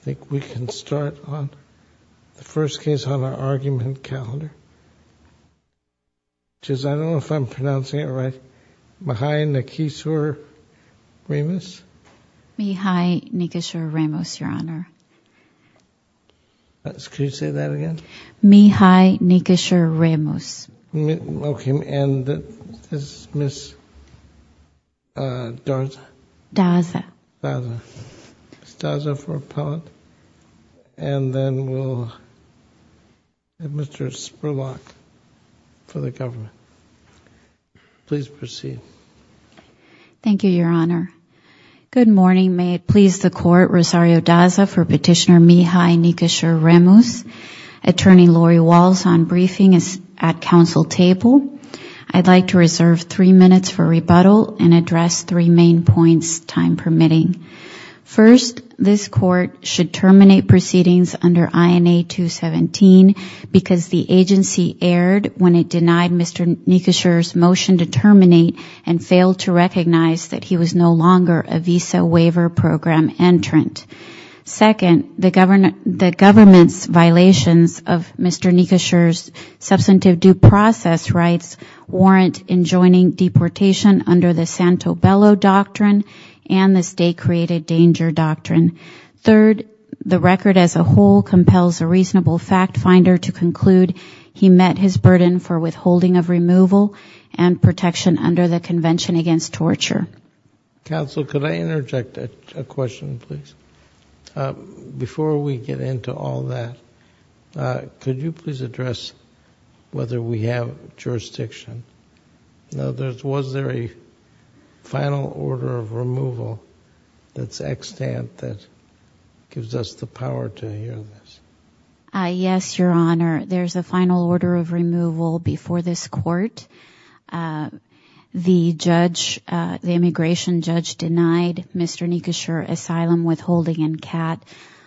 I think we can start on the first case on our argument calendar which is, I don't know if I'm pronouncing it right, Mihai Nicusor-Remus. Mihai Nicusor-Remus, Your Honor. Could you say that again? Mihai Nicusor-Remus. Okay, and that is Ms. Daza. Daza. Ms. Daza for appellate and then we'll have Mr. Spurlock for the government. Please proceed. Thank you, Your Honor. Good morning. May it please the Court, Rosario Daza for Petitioner Mihai Nicusor-Remus. Attorney Lori Walsh on briefing is at Council table. I'd like to take a few minutes for rebuttal and address three main points, time permitting. First, this Court should terminate proceedings under INA 217 because the agency erred when it denied Mr. Nicusor's motion to terminate and failed to recognize that he was no longer a visa waiver program entrant. Second, the government's violations of Mr. Nicusor's substantive due process rights warrant enjoining deportation under the Santo Bello Doctrine and the State Created Danger Doctrine. Third, the record as a whole compels a reasonable fact finder to conclude he met his burden for withholding of removal and protection under the Convention Against Torture. Counsel, could I interject a question, please? Before we get into all that, could you please address whether we have jurisdiction? Was there a final order of removal that's extant that gives us the power to hear this? Yes, Your Honor. There's a final order of removal before this Court. The immigration judge denied Mr. Nicusor asylum withholding in CAT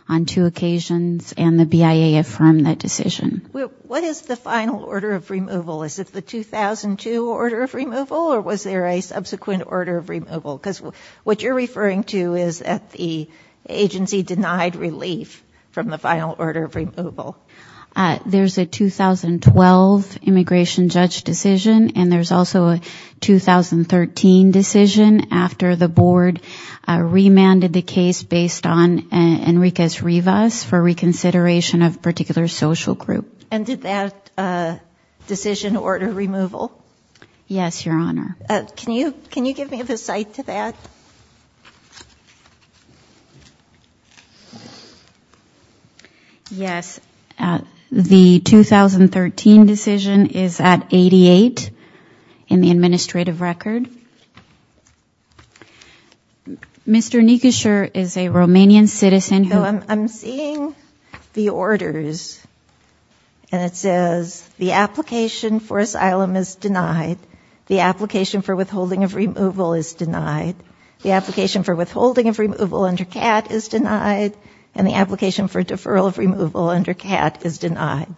on two occasions and the BIA affirmed that decision. What is the final order of removal? Is it the 2002 order of removal or was there a subsequent order of removal? Because what you're referring to is that the agency denied relief from the final order of removal. There's a 2012 immigration judge decision and there's also a 2013 decision after the board remanded the case based on Enriquez Rivas for reconsideration of a particular social group. And did that decision order removal? Yes, Your Honor. Can you give me the cite to that? Yes. The 2013 decision is at 88 in the administrative record. Mr. Nicusor is a Romanian citizen who I'm seeing the orders and it says the application for asylum is denied. The application for withholding of removal is denied. The application for withholding of removal under CAT is denied and the application for deferral of removal under CAT is denied.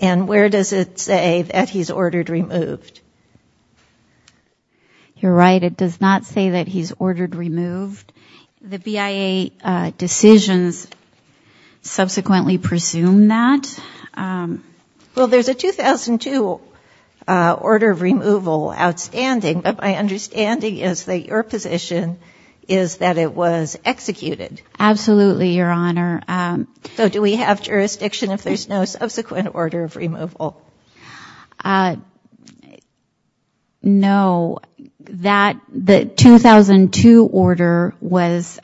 And where does it say that he's ordered removed? You're right. It does not say that he's ordered removed. The BIA decisions subsequently presume that. Well, there's a 2002 order of removal outstanding, but my understanding is that your position is that it was executed. Absolutely, Your Honor. So do we have jurisdiction if there's no subsequent order of removal? No. The 2002 order was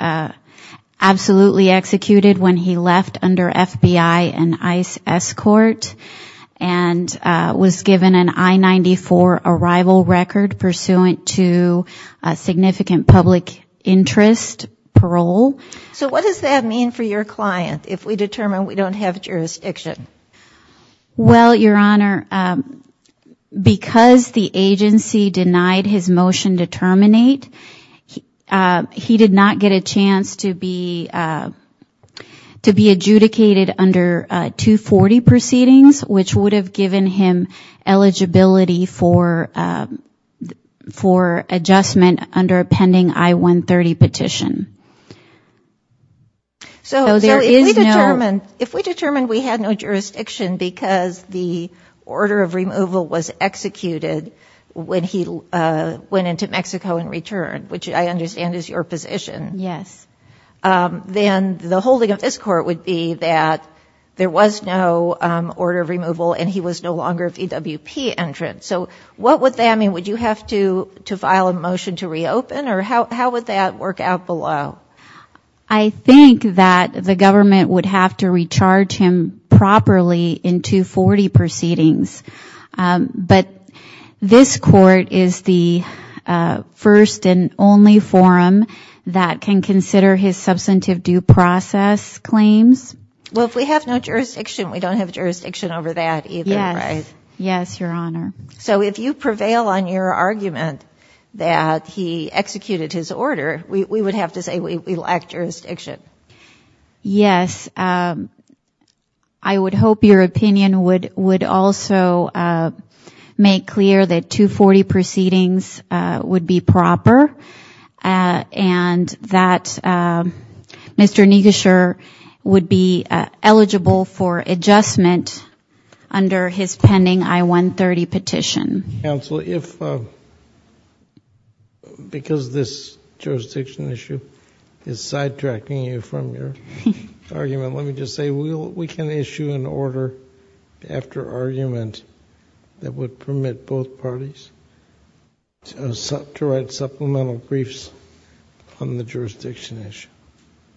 absolutely executed when he left under FBI and ICE escort and was given an I-94 arrival record pursuant to significant public interest parole. So what does that mean for your client if we determine we don't have jurisdiction? Well, Your Honor, because the agency denied his motion to terminate, he did not get a chance to be adjudicated under 240 proceedings, which would have given him eligibility for adjustment under a pending I-130 petition. So if we determine we had no jurisdiction because the order of removal was executed when he went into Mexico and returned, which I understand is your position, then the holding of this court would be that there was no order of removal and he was no longer a VWP entrant. So what would that mean? Would you have to file a motion to reopen or how would that work out below? I think that the government would have to recharge him properly in 240 proceedings. But this court is the first and only forum that can consider his substantive due process claims. Well, if we have no jurisdiction, we don't have jurisdiction over that either, right? Yes, Your Honor. So if you prevail on your argument that he executed his order, we would have to say we lack jurisdiction? Yes. I would hope your opinion would also make clear that 240 proceedings would be proper and that Mr. Negusher would be eligible for adjustment under his pending I-130 petition. Counsel, if, because this jurisdiction issue is sidetracking you from your argument, let me just say we can issue an order after argument that would permit both parties to write supplemental briefs on the jurisdiction issue.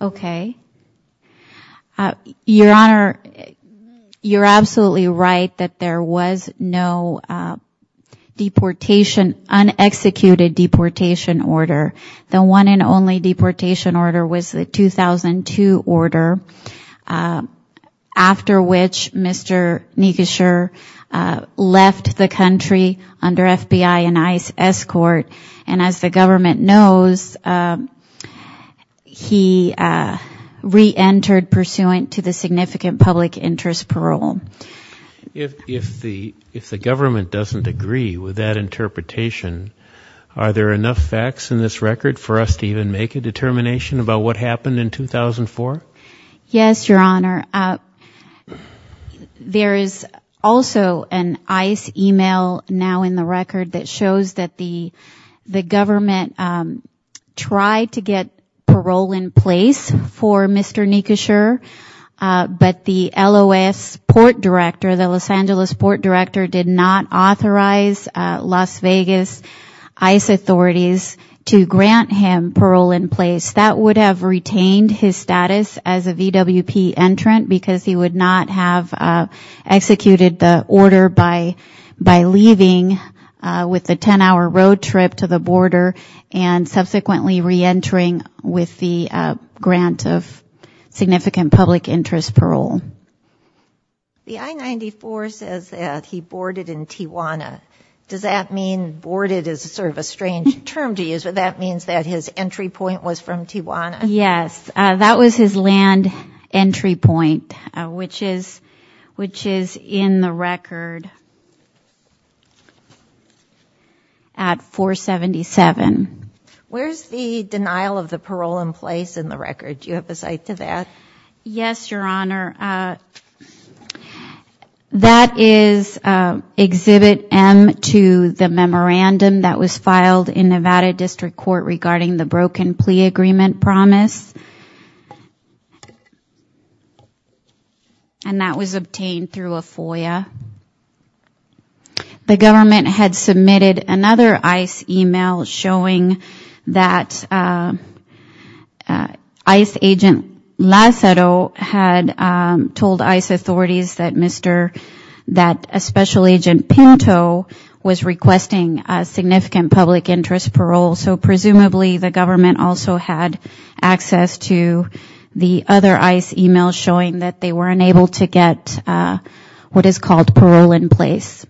Okay. Your Honor, you're absolutely right that there was no un-executed deportation order. The one and only deportation order was the 2002 order after which Mr. Negusher left the government. As the government knows, he re-entered pursuant to the significant public interest parole. If the government doesn't agree with that interpretation, are there enough facts in this record for us to even make a determination about what happened in 2004? Yes, Your Honor. There is also an ICE email now in the record that shows that the government tried to get parole in place for Mr. Negusher, but the LOS Port Director, the Los Angeles Port Director did not authorize Las Vegas ICE authorities to grant him parole in place. That would have retained his status as a VWP entrant because he would not have executed the order by leaving with a 10-hour road trip to the border and subsequently re-entering with the grant of significant public interest parole. The I-94 says that he boarded in Tijuana. Does that mean boarded is sort of a strange term to use, but that means that his entry point was from Tijuana? Yes. That was his land entry point, which is in the record at 477. Where's the denial of the parole in place in the record? Do you have a cite to that? Yes, Your Honor. That is Exhibit M to the memorandum that was filed in Nevada District Court regarding the broken plea agreement promise, and that was obtained through a FOIA. The government had submitted another ICE email showing that ICE agent Lazzaro had told ICE authorities that a special agent Pinto was requesting significant public interest parole, so presumably the government also had access to the other ICE email showing that they were unable to get what is called parole in place.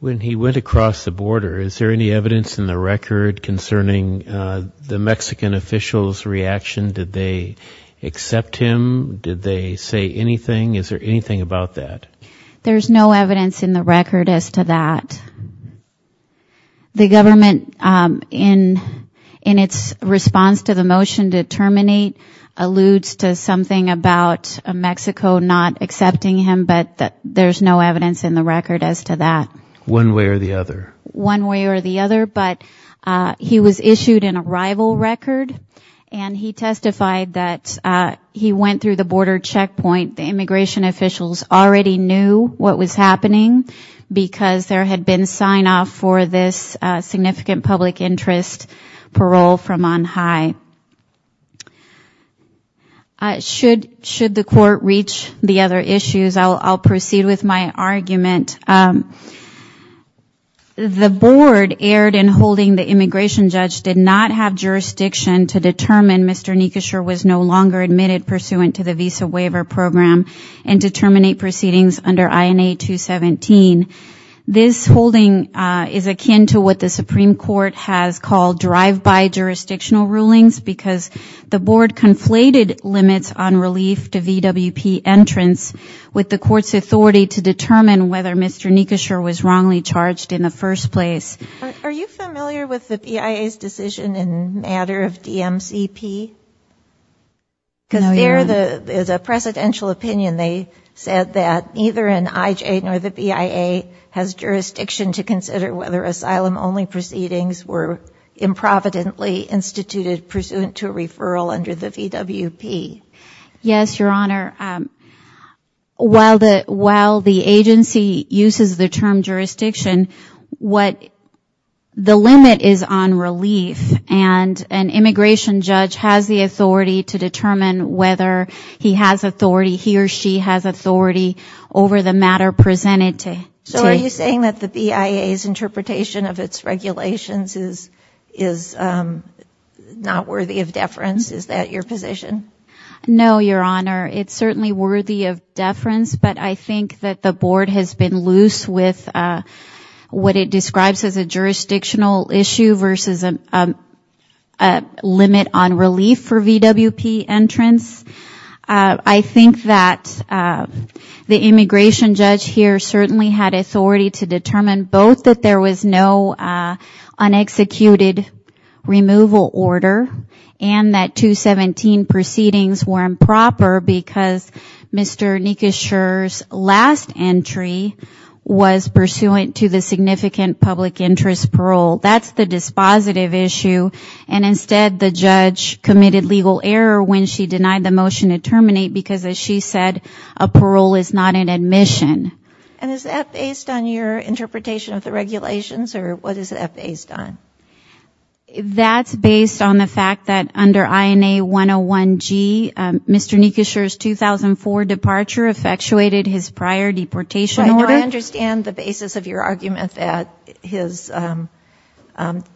When he went across the border, is there any evidence in the record concerning the Mexican official's reaction? Did they accept him? Did they say anything? Is there anything about that? There's no evidence in the record as to that. The government, in its response to the motion to terminate, alludes to something about Mexico not accepting him, but there's no evidence in the record as to that. One way or the other. One way or the other, but he was issued an arrival record, and he testified that he went through the border checkpoint. The immigration officials already knew what was happening because there had been sign-off for this significant public interest parole from on high. Should the court reach the other issues, I'll proceed with my argument. The board erred in holding the immigration judge did not have jurisdiction to determine Mr. Nikosher was no longer admitted pursuant to the visa waiver program and to terminate proceedings under INA 217. This holding is akin to what the Supreme Court has called drive-by jurisdictional rulings because the board conflated limits on relief to VWP entrance with the court's authority to determine whether Mr. Nikosher was wrongly charged in the first place. Are you familiar with the BIA's decision in matter of DMCP? No, Your Honor. Because there is a precedential opinion. They said that neither an IJ nor the BIA has jurisdiction to consider whether asylum-only proceedings were improvidently instituted pursuant to a referral under the VWP. Yes, Your Honor. While the agency uses the term jurisdiction, what the board does is the limit is on relief and an immigration judge has the authority to determine whether he has authority, he or she has authority over the matter presented to him. So are you saying that the BIA's interpretation of its regulations is not worthy of deference? Is that your position? No, Your Honor. It's certainly worthy of deference, but I think that the board has been loose with what it describes as a jurisdictional issue versus a limit on relief for VWP entrance. I think that the immigration judge here certainly had authority to determine both that there was no unexecuted removal order and that 217 proceedings were improper because Mr. Nikosher's last entry was pursuant to the significant public interest parole. That's the dispositive issue and instead the judge committed legal error when she denied the motion to terminate because as she said, a parole is not an admission. And is that based on your interpretation of the regulations or what is that based on? That's based on the fact that under INA 101-G, Mr. Nikosher's 2004 departure effectuated his prior deportation order. I understand the basis of your argument that his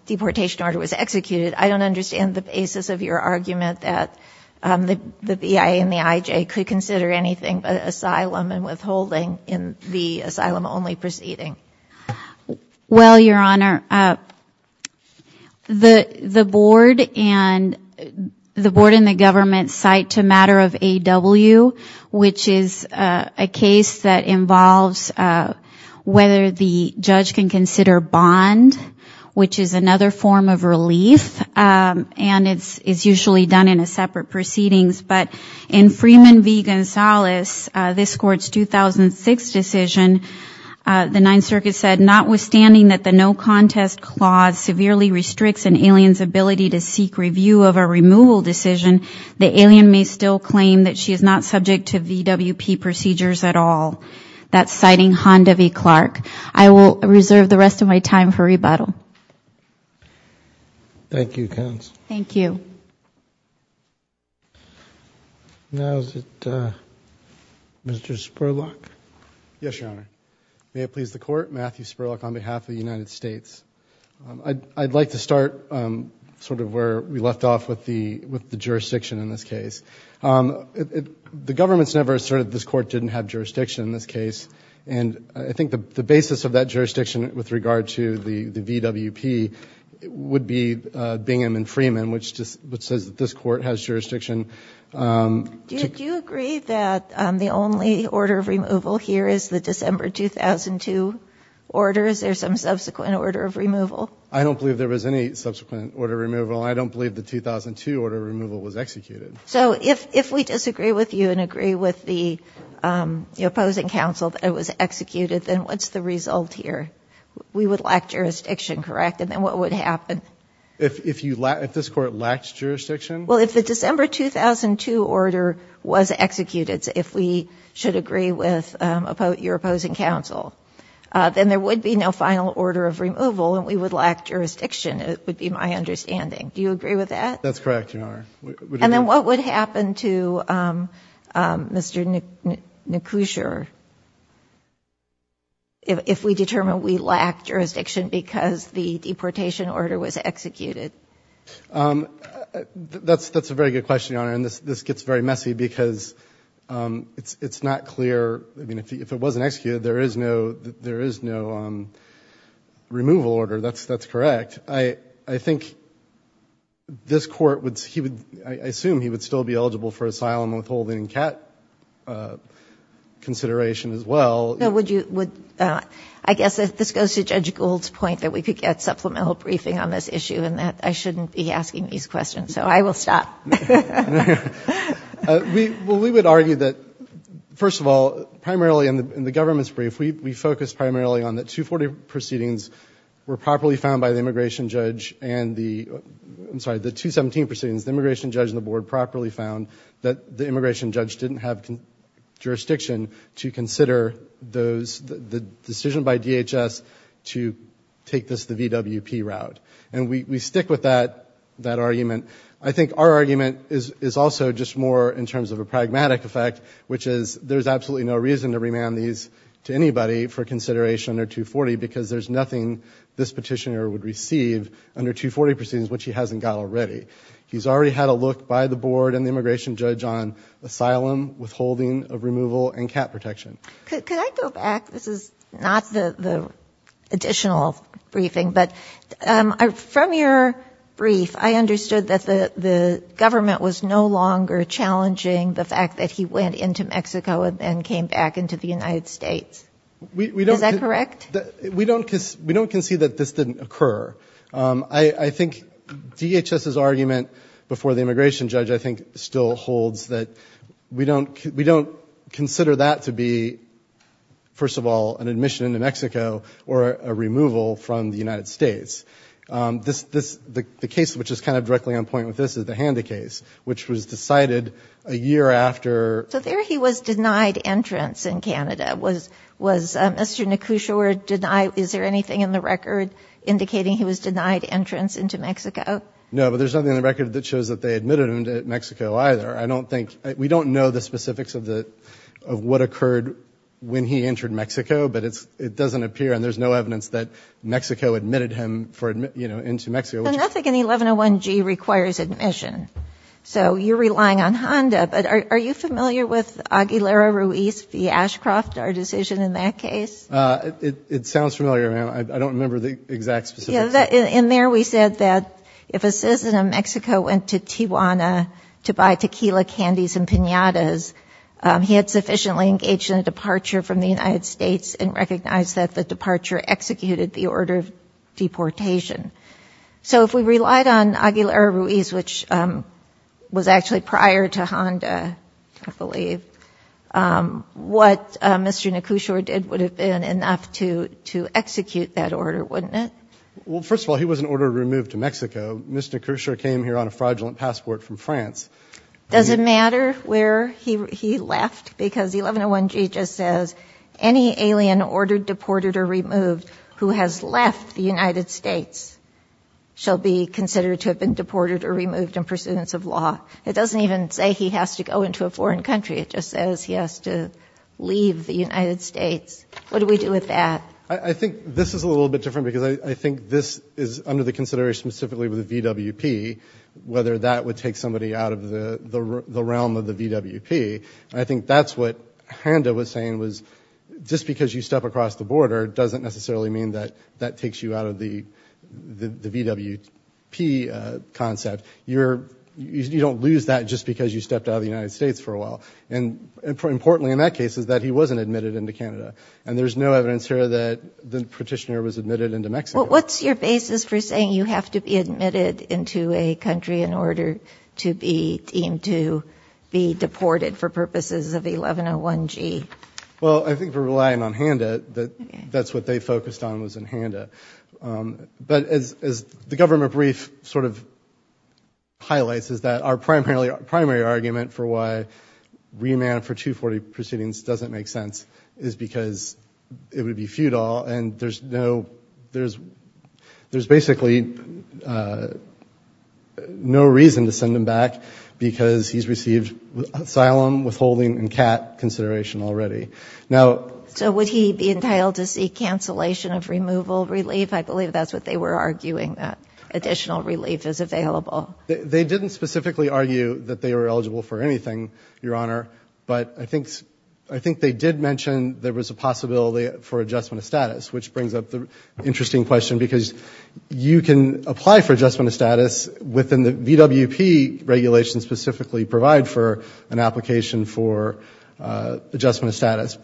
deportation order was executed. I don't understand the basis of your argument that the BIA and the IJ could consider anything but asylum and withholding in the asylum-only proceeding. Well, Your Honor, the board and the government cite to matter of AW, which is a case that involves whether the judge can consider bond, which is another form of relief and it's usually done in a separate proceedings. But in Freeman v. Gonzalez, this Court's 2006 decision, the Ninth Circuit said, notwithstanding that the no contest clause severely restricts an alien's ability to seek review of a removal decision, the alien may still claim that she is not subject to VWP procedures at all. That's citing Honda v. Clark. I will reserve the rest of my time for rebuttal. Thank you, Counsel. Thank you. Now is it Mr. Spurlock? Yes, Your Honor. May it please the Court, Matthew Spurlock on behalf of the United States. I'd like to start sort of where we left off with the jurisdiction in this case. The government's never asserted that this Court didn't have jurisdiction in this case, and I think the basis of that jurisdiction with regard to the VWP would be Bingham v. Freeman, which says that this Court has jurisdiction. Do you agree that the only order of removal here is the December 2002 order? Is there some subsequent order of removal? I don't believe there was any subsequent order of removal. I don't believe the 2002 order of removal was executed. So if we disagree with you and agree with the opposing counsel that it was executed, then what's the result here? We would lack jurisdiction, correct? And then what would happen? If this Court lacked jurisdiction? Well, if the December 2002 order was executed, if we should agree with your opposing counsel, then there would be no final order of removal and we would lack jurisdiction, it would be my understanding. Do you agree with that? That's correct, Your Honor. And then what would happen to Mr. Nekusher if we determined we lacked jurisdiction because the deportation order was executed? That's a very good question, Your Honor, and this gets very messy because it's not clear if it wasn't executed, there is no removal order. That's correct. I think this Court, I assume he would still be eligible for asylum withholding and CAT consideration as well. I guess this goes to Judge Gould's point that we could get supplemental briefing on this issue and that I shouldn't be asking these questions, so I will stop. Well, we would argue that, first of all, primarily in the government's brief, we focus primarily on that 240 proceedings were properly found by the immigration judge and the, I'm sorry, the 217 proceedings, the immigration judge and the board properly found that the immigration judge didn't have jurisdiction to consider the decision by DHS to take this, the VWP route. And we stick with that argument. I think our argument is also just more in terms of a pragmatic effect, which is there's absolutely no reason to remand these to anybody for consideration under 240 because there's nothing this petitioner would receive under 240 proceedings which he hasn't got already. He's already had a look by the board and the immigration judge on asylum withholding of removal and CAT protection. Could I go back? This is not the additional briefing, but from your brief, I understood that the government was no longer challenging the fact that he went into Mexico and then came back into the United States. Is that correct? We don't concede that this didn't occur. I think DHS's argument before the immigration judge, I think, still holds that we don't consider that to be, first of all, an admission into Mexico or a removal from the United States. The case which is kind of directly on point with this is the Handy case, which was decided a year after... So there he was denied entrance in Canada. Was Mr. Nekushaward denied? Is there anything in the record indicating he was denied entrance into Mexico? No, but there's nothing in the record that shows that they admitted him to Mexico either. We don't know the specifics of what occurred when he entered Mexico, but it doesn't appear. And there's no evidence that Mexico admitted him into Mexico. But nothing in the 1101G requires admission. So you're relying on HONDA, but are you familiar with Aguilera Ruiz v. Ashcroft, our decision in that case? It sounds familiar, ma'am. I don't remember the exact specifics. In there we said that if a citizen of Mexico went to Tijuana to buy tequila, candies, and piñatas, he had sufficiently engaged in a departure from the United States and recognized that the departure executed the order of deportation. So if we relied on Aguilera Ruiz, which was actually prior to HONDA, I believe, what Mr. Nekushaward did would have been enough to execute that order, wouldn't it? Well, first of all, he was an order removed to Mexico. Mr. Nekushaward came here on a fraudulent passport from France. Does it matter where he left? Because the 1101G just says, any alien ordered, deported, or removed who has left the United States shall be considered to have been deported or removed in pursuance of law. It doesn't even say he has to go into a foreign country. It just says he has to leave the United States. What do we do with that? I think this is a little bit different, because I think this is under the consideration specifically with the VWP, whether that would take somebody out of the realm of the VWP. And I think that's what HONDA was saying, was just because you step across the border doesn't necessarily mean that takes you out of the VWP concept. You don't lose that just because you stepped out of the United States for a while. And importantly in that case is that he wasn't admitted into Canada. And there's no evidence here that the petitioner was admitted into Mexico. Well, what's your basis for saying you have to be admitted into a country in order to be deemed to be deported for purposes of 1101G? Well, I think we're relying on HONDA. That's what they focused on was in HONDA. But as the government brief sort of highlights is that our primary argument for why remand for 240 proceedings doesn't make sense is because it would be futile and there's basically no reason to send him back, because he's received asylum, withholding and CAT consideration already. So would he be entitled to seek cancellation of removal relief? I believe that's what they were arguing, that additional relief is available. They didn't specifically argue that they were eligible for anything, Your Honor, but I think they did mention there was a possibility for adjustment of status, which brings up the interesting question, because you can apply for adjustment of status within the VWP regulations specifically provide for an application for adjustment of status.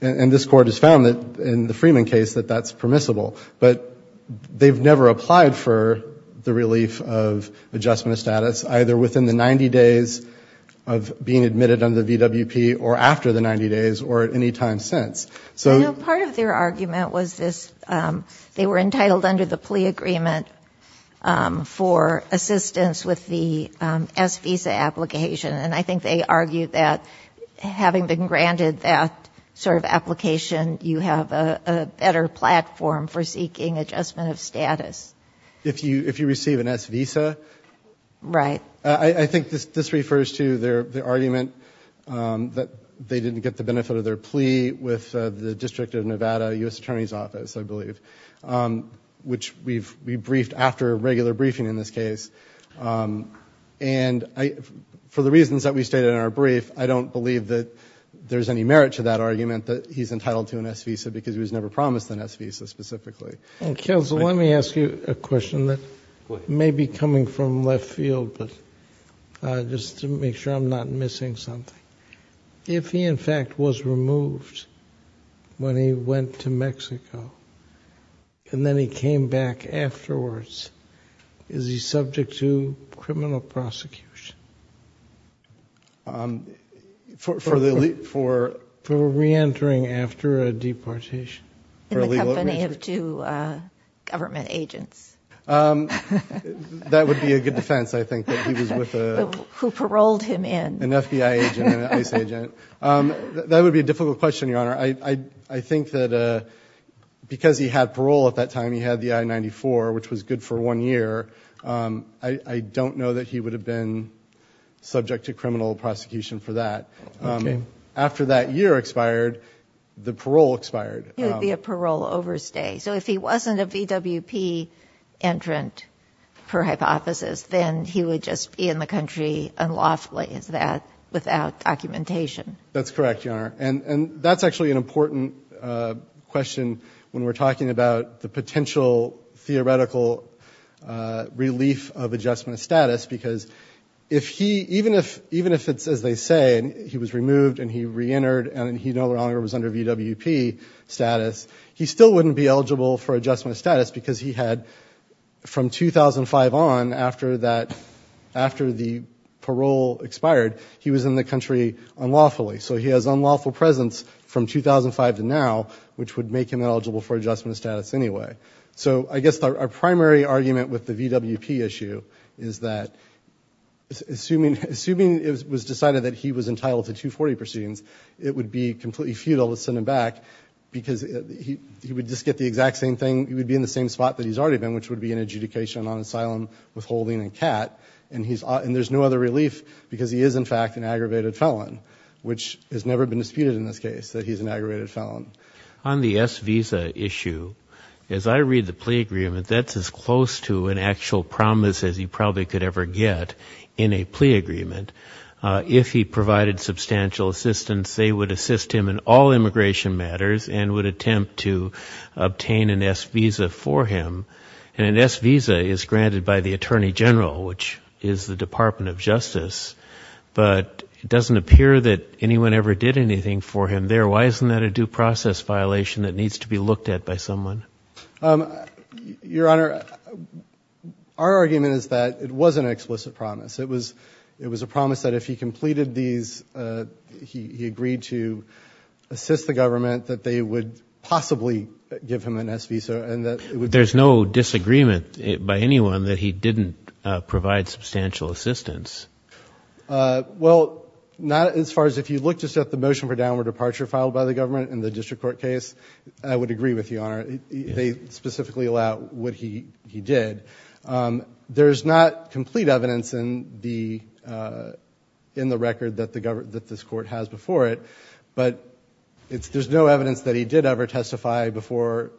And this Court has found that in the Freeman case that that's permissible. But they've never applied for the relief of adjustment of status, either within the 90 days of being admitted under the VWP or after the 90 days or at any time since. You know, part of their argument was this, they were entitled under the plea agreement for assistance with the S visa application. And I think they argued that having been granted that sort of application, you have a better platform for seeking adjustment of status. If you receive an S visa? Right. I think this refers to their argument that they didn't get the benefit of their plea with the District of Nevada U.S. Attorney's Office, I believe, which we briefed after a regular briefing in this case. And for the reasons that we stated in our brief, I don't believe that there's any merit to that argument that he's entitled to an S visa because he was never promised an S visa specifically. Counsel, let me ask you a question that may be coming from left field, but just to make sure I'm not missing something. If he, in fact, was removed when he went to Mexico and then he came back afterwards, is he subject to criminal prosecution? For reentering after a deportation? In the company of two government agents. That would be a good defense, I think. Who paroled him in. An FBI agent and an ICE agent. That would be a difficult question, Your Honor. I think that because he had parole at that time, he had the I-94, which was good for one year, I don't know that he would have been subject to criminal prosecution for that. After that year expired, the parole expired. It would be a parole overstay. So if he wasn't a VWP entrant, per hypothesis, then he would just be in the country unlawfully, is that, without documentation? That's correct, Your Honor. And that's actually an important question when we're talking about the potential theoretical relief of adjustment of status, because even if it's, as they say, he was removed and he reentered and he no longer was under VWP status, he still wouldn't be eligible for adjustment of status, because he had, from 2005 on, after the parole expired, he was in the country unlawfully. So he has unlawful presence from 2005 to now, which would make him eligible for adjustment of status anyway. So I guess our primary argument with the VWP issue is that, assuming it was decided that he was entitled to 240 proceedings, it would be completely futile to send him back, because he would just get the exact same thing. He would be in the same spot that he's already been, which would be an adjudication on asylum withholding and CAT. And there's no other relief, because he is, in fact, an aggravated felon, which has never been disputed in this case, that he's an aggravated felon. On the S visa issue, as I read the plea agreement, that's as close to an actual promise as you probably could ever get in a plea agreement. If he provided substantial assistance, they would assist him in all immigration matters and would attempt to obtain an S visa for him. And an S visa is granted by the Attorney General, which is the Department of Justice, but it doesn't appear that anyone ever did anything for him there. Why isn't that a due process violation that needs to be looked at by someone? Your Honor, our argument is that it was an explicit promise. It was a promise that if he completed these, he agreed to assist the government, that they would possibly give him an S visa. There's no disagreement by anyone that he didn't provide substantial assistance? Well, not as far as if you look just at the motion for downward departure filed by the government in the district court case, I would agree with you, Your Honor. They specifically allow what he did. There's not complete evidence in the record that this Court has before it, but there's no evidence that he did ever testify in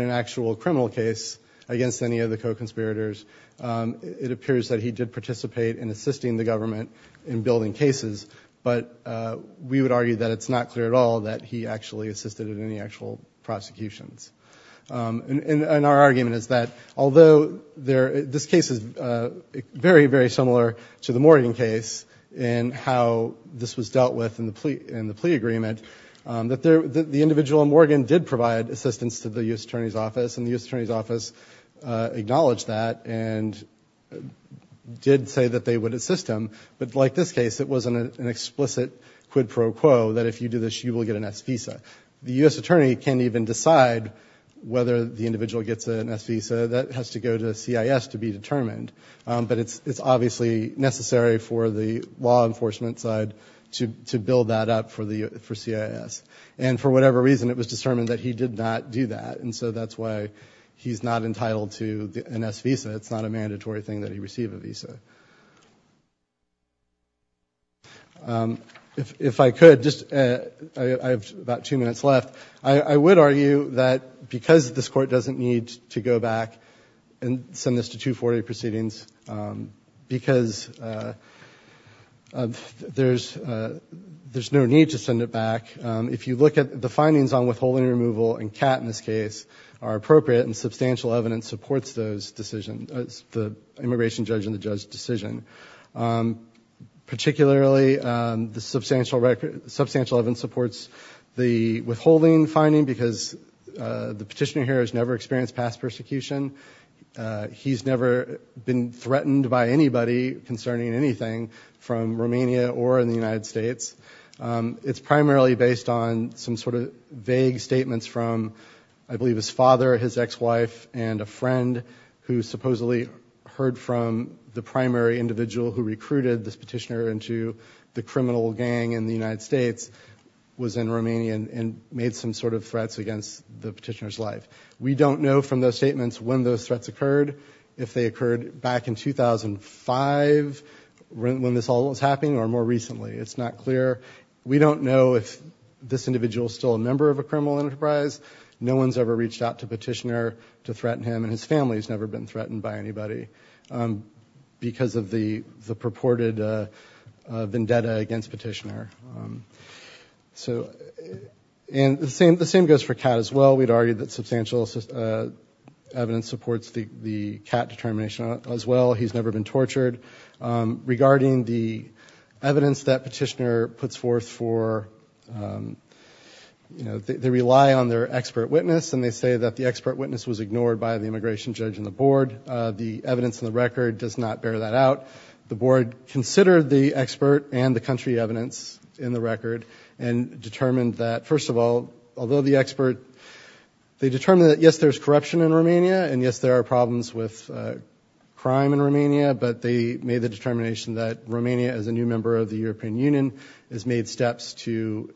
an actual criminal case against any of the co-conspirators. It appears that he did participate in assisting the government in building cases, but we would argue that it's not clear at all that he actually assisted in any actual prosecutions. And our argument is that although this case is very, very similar to the Morgan case in how this was dealt with in the plea agreement, the individual in Morgan did provide assistance to the U.S. Attorney's Office, and the U.S. Attorney's Office acknowledged that and did say that they would assist him. But like this case, it was an explicit quid pro quo that if you do this, you will get an S visa. The U.S. Attorney can't even decide whether the individual gets an S visa. That has to go to CIS to be determined. But it's obviously necessary for the law enforcement side to build that up for CIS. And for whatever reason, it was determined that he did not do that, and so that's why he's not entitled to an S visa. It's not a mandatory thing that he receive a visa. If I could, I have about two minutes left. I would argue that because this Court doesn't need to go back and send this to 240 proceedings, because there's no need to send it back, if you look at the findings on withholding and removal, and Catt in this case, are appropriate and substantial evidence supports those decisions, the immigration judge and the judge's decision. Particularly, the substantial evidence supports the withholding finding, because the petitioner here has never experienced past persecution. He's never been threatened by anybody concerning anything from Romania or the United States. It's primarily based on some sort of vague statements from, I believe, his father, his ex-wife, and a friend who supposedly heard from the primary individual who recruited this petitioner into the criminal gang in the United States, was in Romania, and made some sort of threats against the petitioner's life. We don't know from those statements when those threats occurred, if they occurred back in 2005, when this all was happening, or more recently. It's not clear. We don't know if this individual is still a member of a criminal enterprise. No one's ever reached out to the petitioner to threaten him, and his family's never been threatened by anybody because of the purported vendetta against the petitioner. And the same goes for Catt as well. We'd argued that substantial evidence supports the Catt determination as well. He's never been tortured. Regarding the evidence that petitioner puts forth for, they rely on their expert witness, and they say that the expert witness was ignored by the immigration judge and the board. The evidence in the record does not bear that out. The board considered the expert and the country evidence in the record, and determined that, first of all, although the expert, they determined that yes, there's corruption in Romania, and yes, there are problems with crime in Romania, but they made the determination that Romania, as a new member of the European Union, has made steps to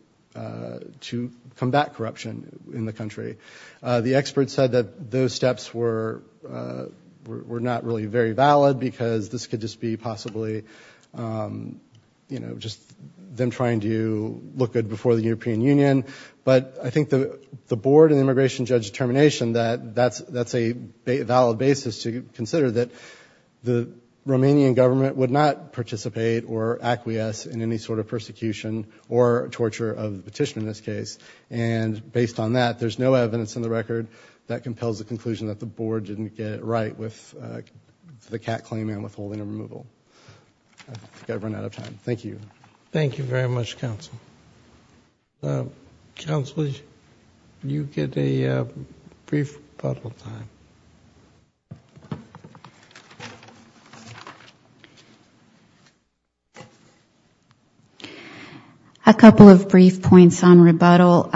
combat corruption in the country. The expert said that those steps were not really very valid, because this could just be possibly, you know, just them trying to look good before the European Union. But I think the board and the immigration judge determination that that's a valid basis to consider that the Romanian government would not participate or acquiesce in any sort of persecution or torture of the petitioner in this case. And based on that, there's no evidence in the record that compels the conclusion that the board didn't get it right with the CAC claim and withholding a removal. I think I've run out of time. Thank you. Thank you very much, counsel. Counsel, you get a brief rebuttal time. A couple of brief points on rebuttal.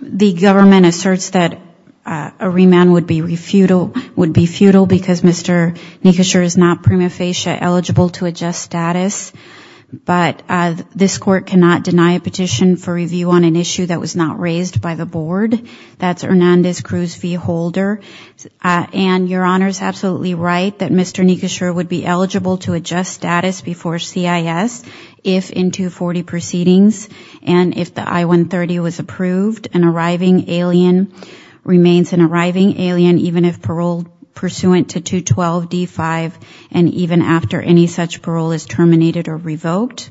The government asserts that a remand would be futile because Mr. Nikosher is not prima facie eligible to adjust status. But this court cannot deny a petition for review on an issue that was not raised by the board. That's Hernandez-Cruz v. Holder. And your Honor is absolutely right that Mr. Nikosher would be eligible to adjust status before CIS, if in 240 proceedings, and if the I-130 was approved, an arriving alien remains an arriving alien, even if paroled pursuant to 212 D-5, and even after any such parole is terminated or revoked.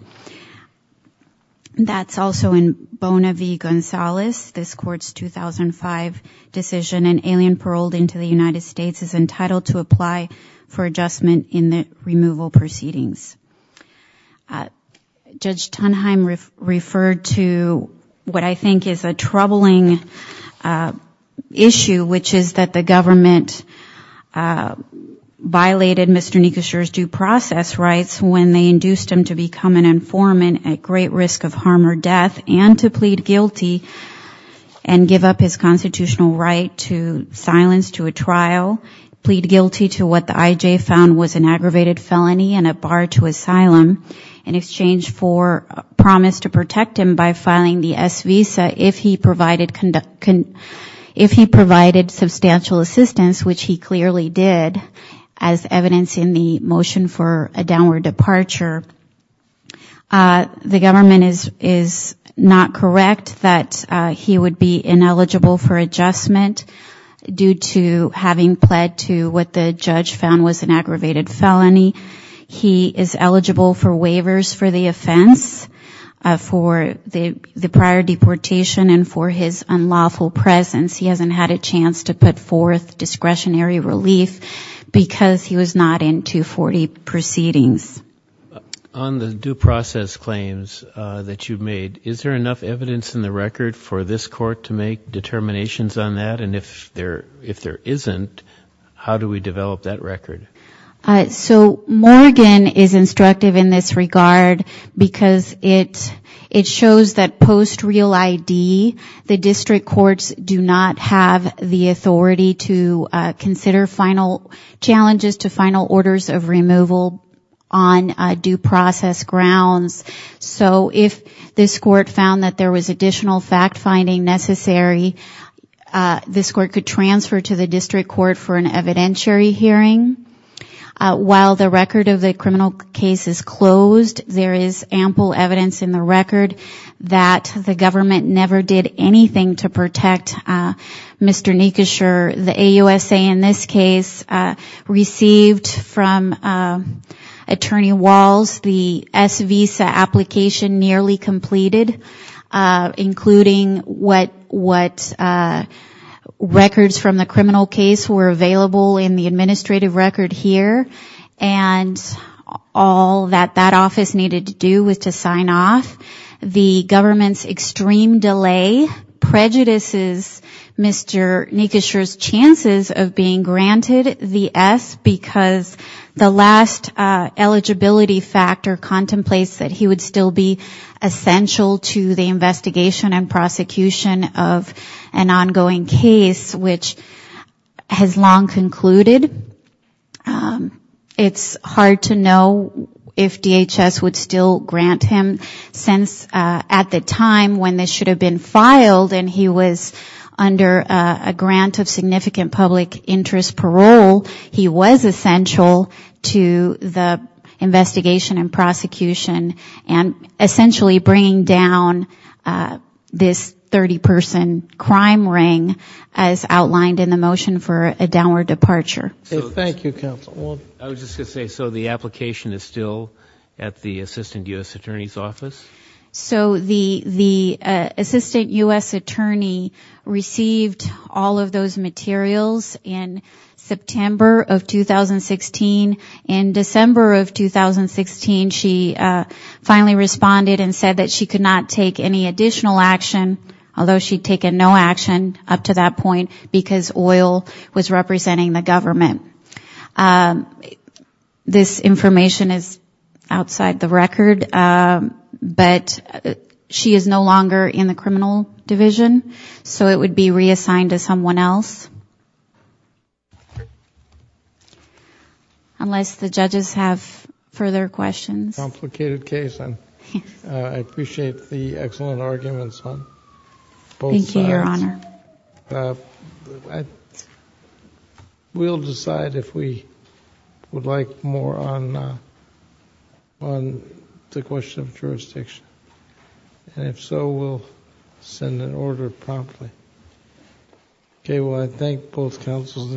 That's also in Bona v. Gonzalez. This Court's 2005 decision, an alien paroled into the United States is entitled to apply for adjustment in the removal proceedings. Judge Tunheim referred to what I think is a troubling issue, which is that the government violated Mr. Nikosher's due process rights when they induced him to become an informant at great risk of harm or death, and to plead guilty and give up his constitutional right to silence to a trial, plead guilty to what the IJ found was an aggravated felony and a bar to asylum, in exchange for a promise to protect him by filing the S-Visa, if he provided substantial assistance, which he clearly did, as evidenced in the motion for a downward departure. The government is not correct that he would be ineligible for adjustment due to having pled to what the judge found was an aggravated felony. He is eligible for waivers for the offense, for the prior deportation and for his unlawful presence. He hasn't had a chance to put forth discretionary relief because he was not in 240 proceedings. On the due process claims that you've made, is there enough evidence in the record for this Court to make determinations on that? And if there isn't, how do we develop that record? So Morgan is instructive in this regard, because it shows that post real ID, the district courts do not have the authority to consider final challenges to final orders of removal on due process grounds. So if this Court found that there was additional fact-finding necessary, this Court could transfer to the district court for an evidentiary hearing. While the record of the criminal case is closed, there is ample evidence in the record that the government never did anything to protect Mr. Nikosher. The AUSA in this case received from Attorney Walls the S-Visa application nearly completed, including what records from the criminal case were available in the administrative record here. And all that that office needed to do was to sign off. The government's extreme delay prejudices Mr. Nikosher's chances of being granted the S, because the last eligibility factor contemplates that he would still be essential to the investigation and prosecution of an ongoing case which has long concluded. It's hard to know if DHS would still grant him, since at the time when this should have been filed, and he was under a grant of significant public interest parole, he was essential to the investigation and prosecution, and essentially bringing down this 30-person crime ring as outlined in the motion for a downward departure. I was just going to say, so the application is still at the Assistant U.S. Attorney's office? So the Assistant U.S. Attorney received all of those materials in September of 2016. In December of 2016, she finally responded and said that she could not take any additional action, although she'd taken no action up to that point, because oil was representing the government. This information is outside the record, but she is no longer in the criminal division, so it would be reassigned to someone else. Unless the judges have further questions. Complicated case. I appreciate the excellent arguments on both sides. We'll decide if we would like more on the question of jurisdiction, and if so, we'll send an order promptly. Okay. Well, I thank both counsels.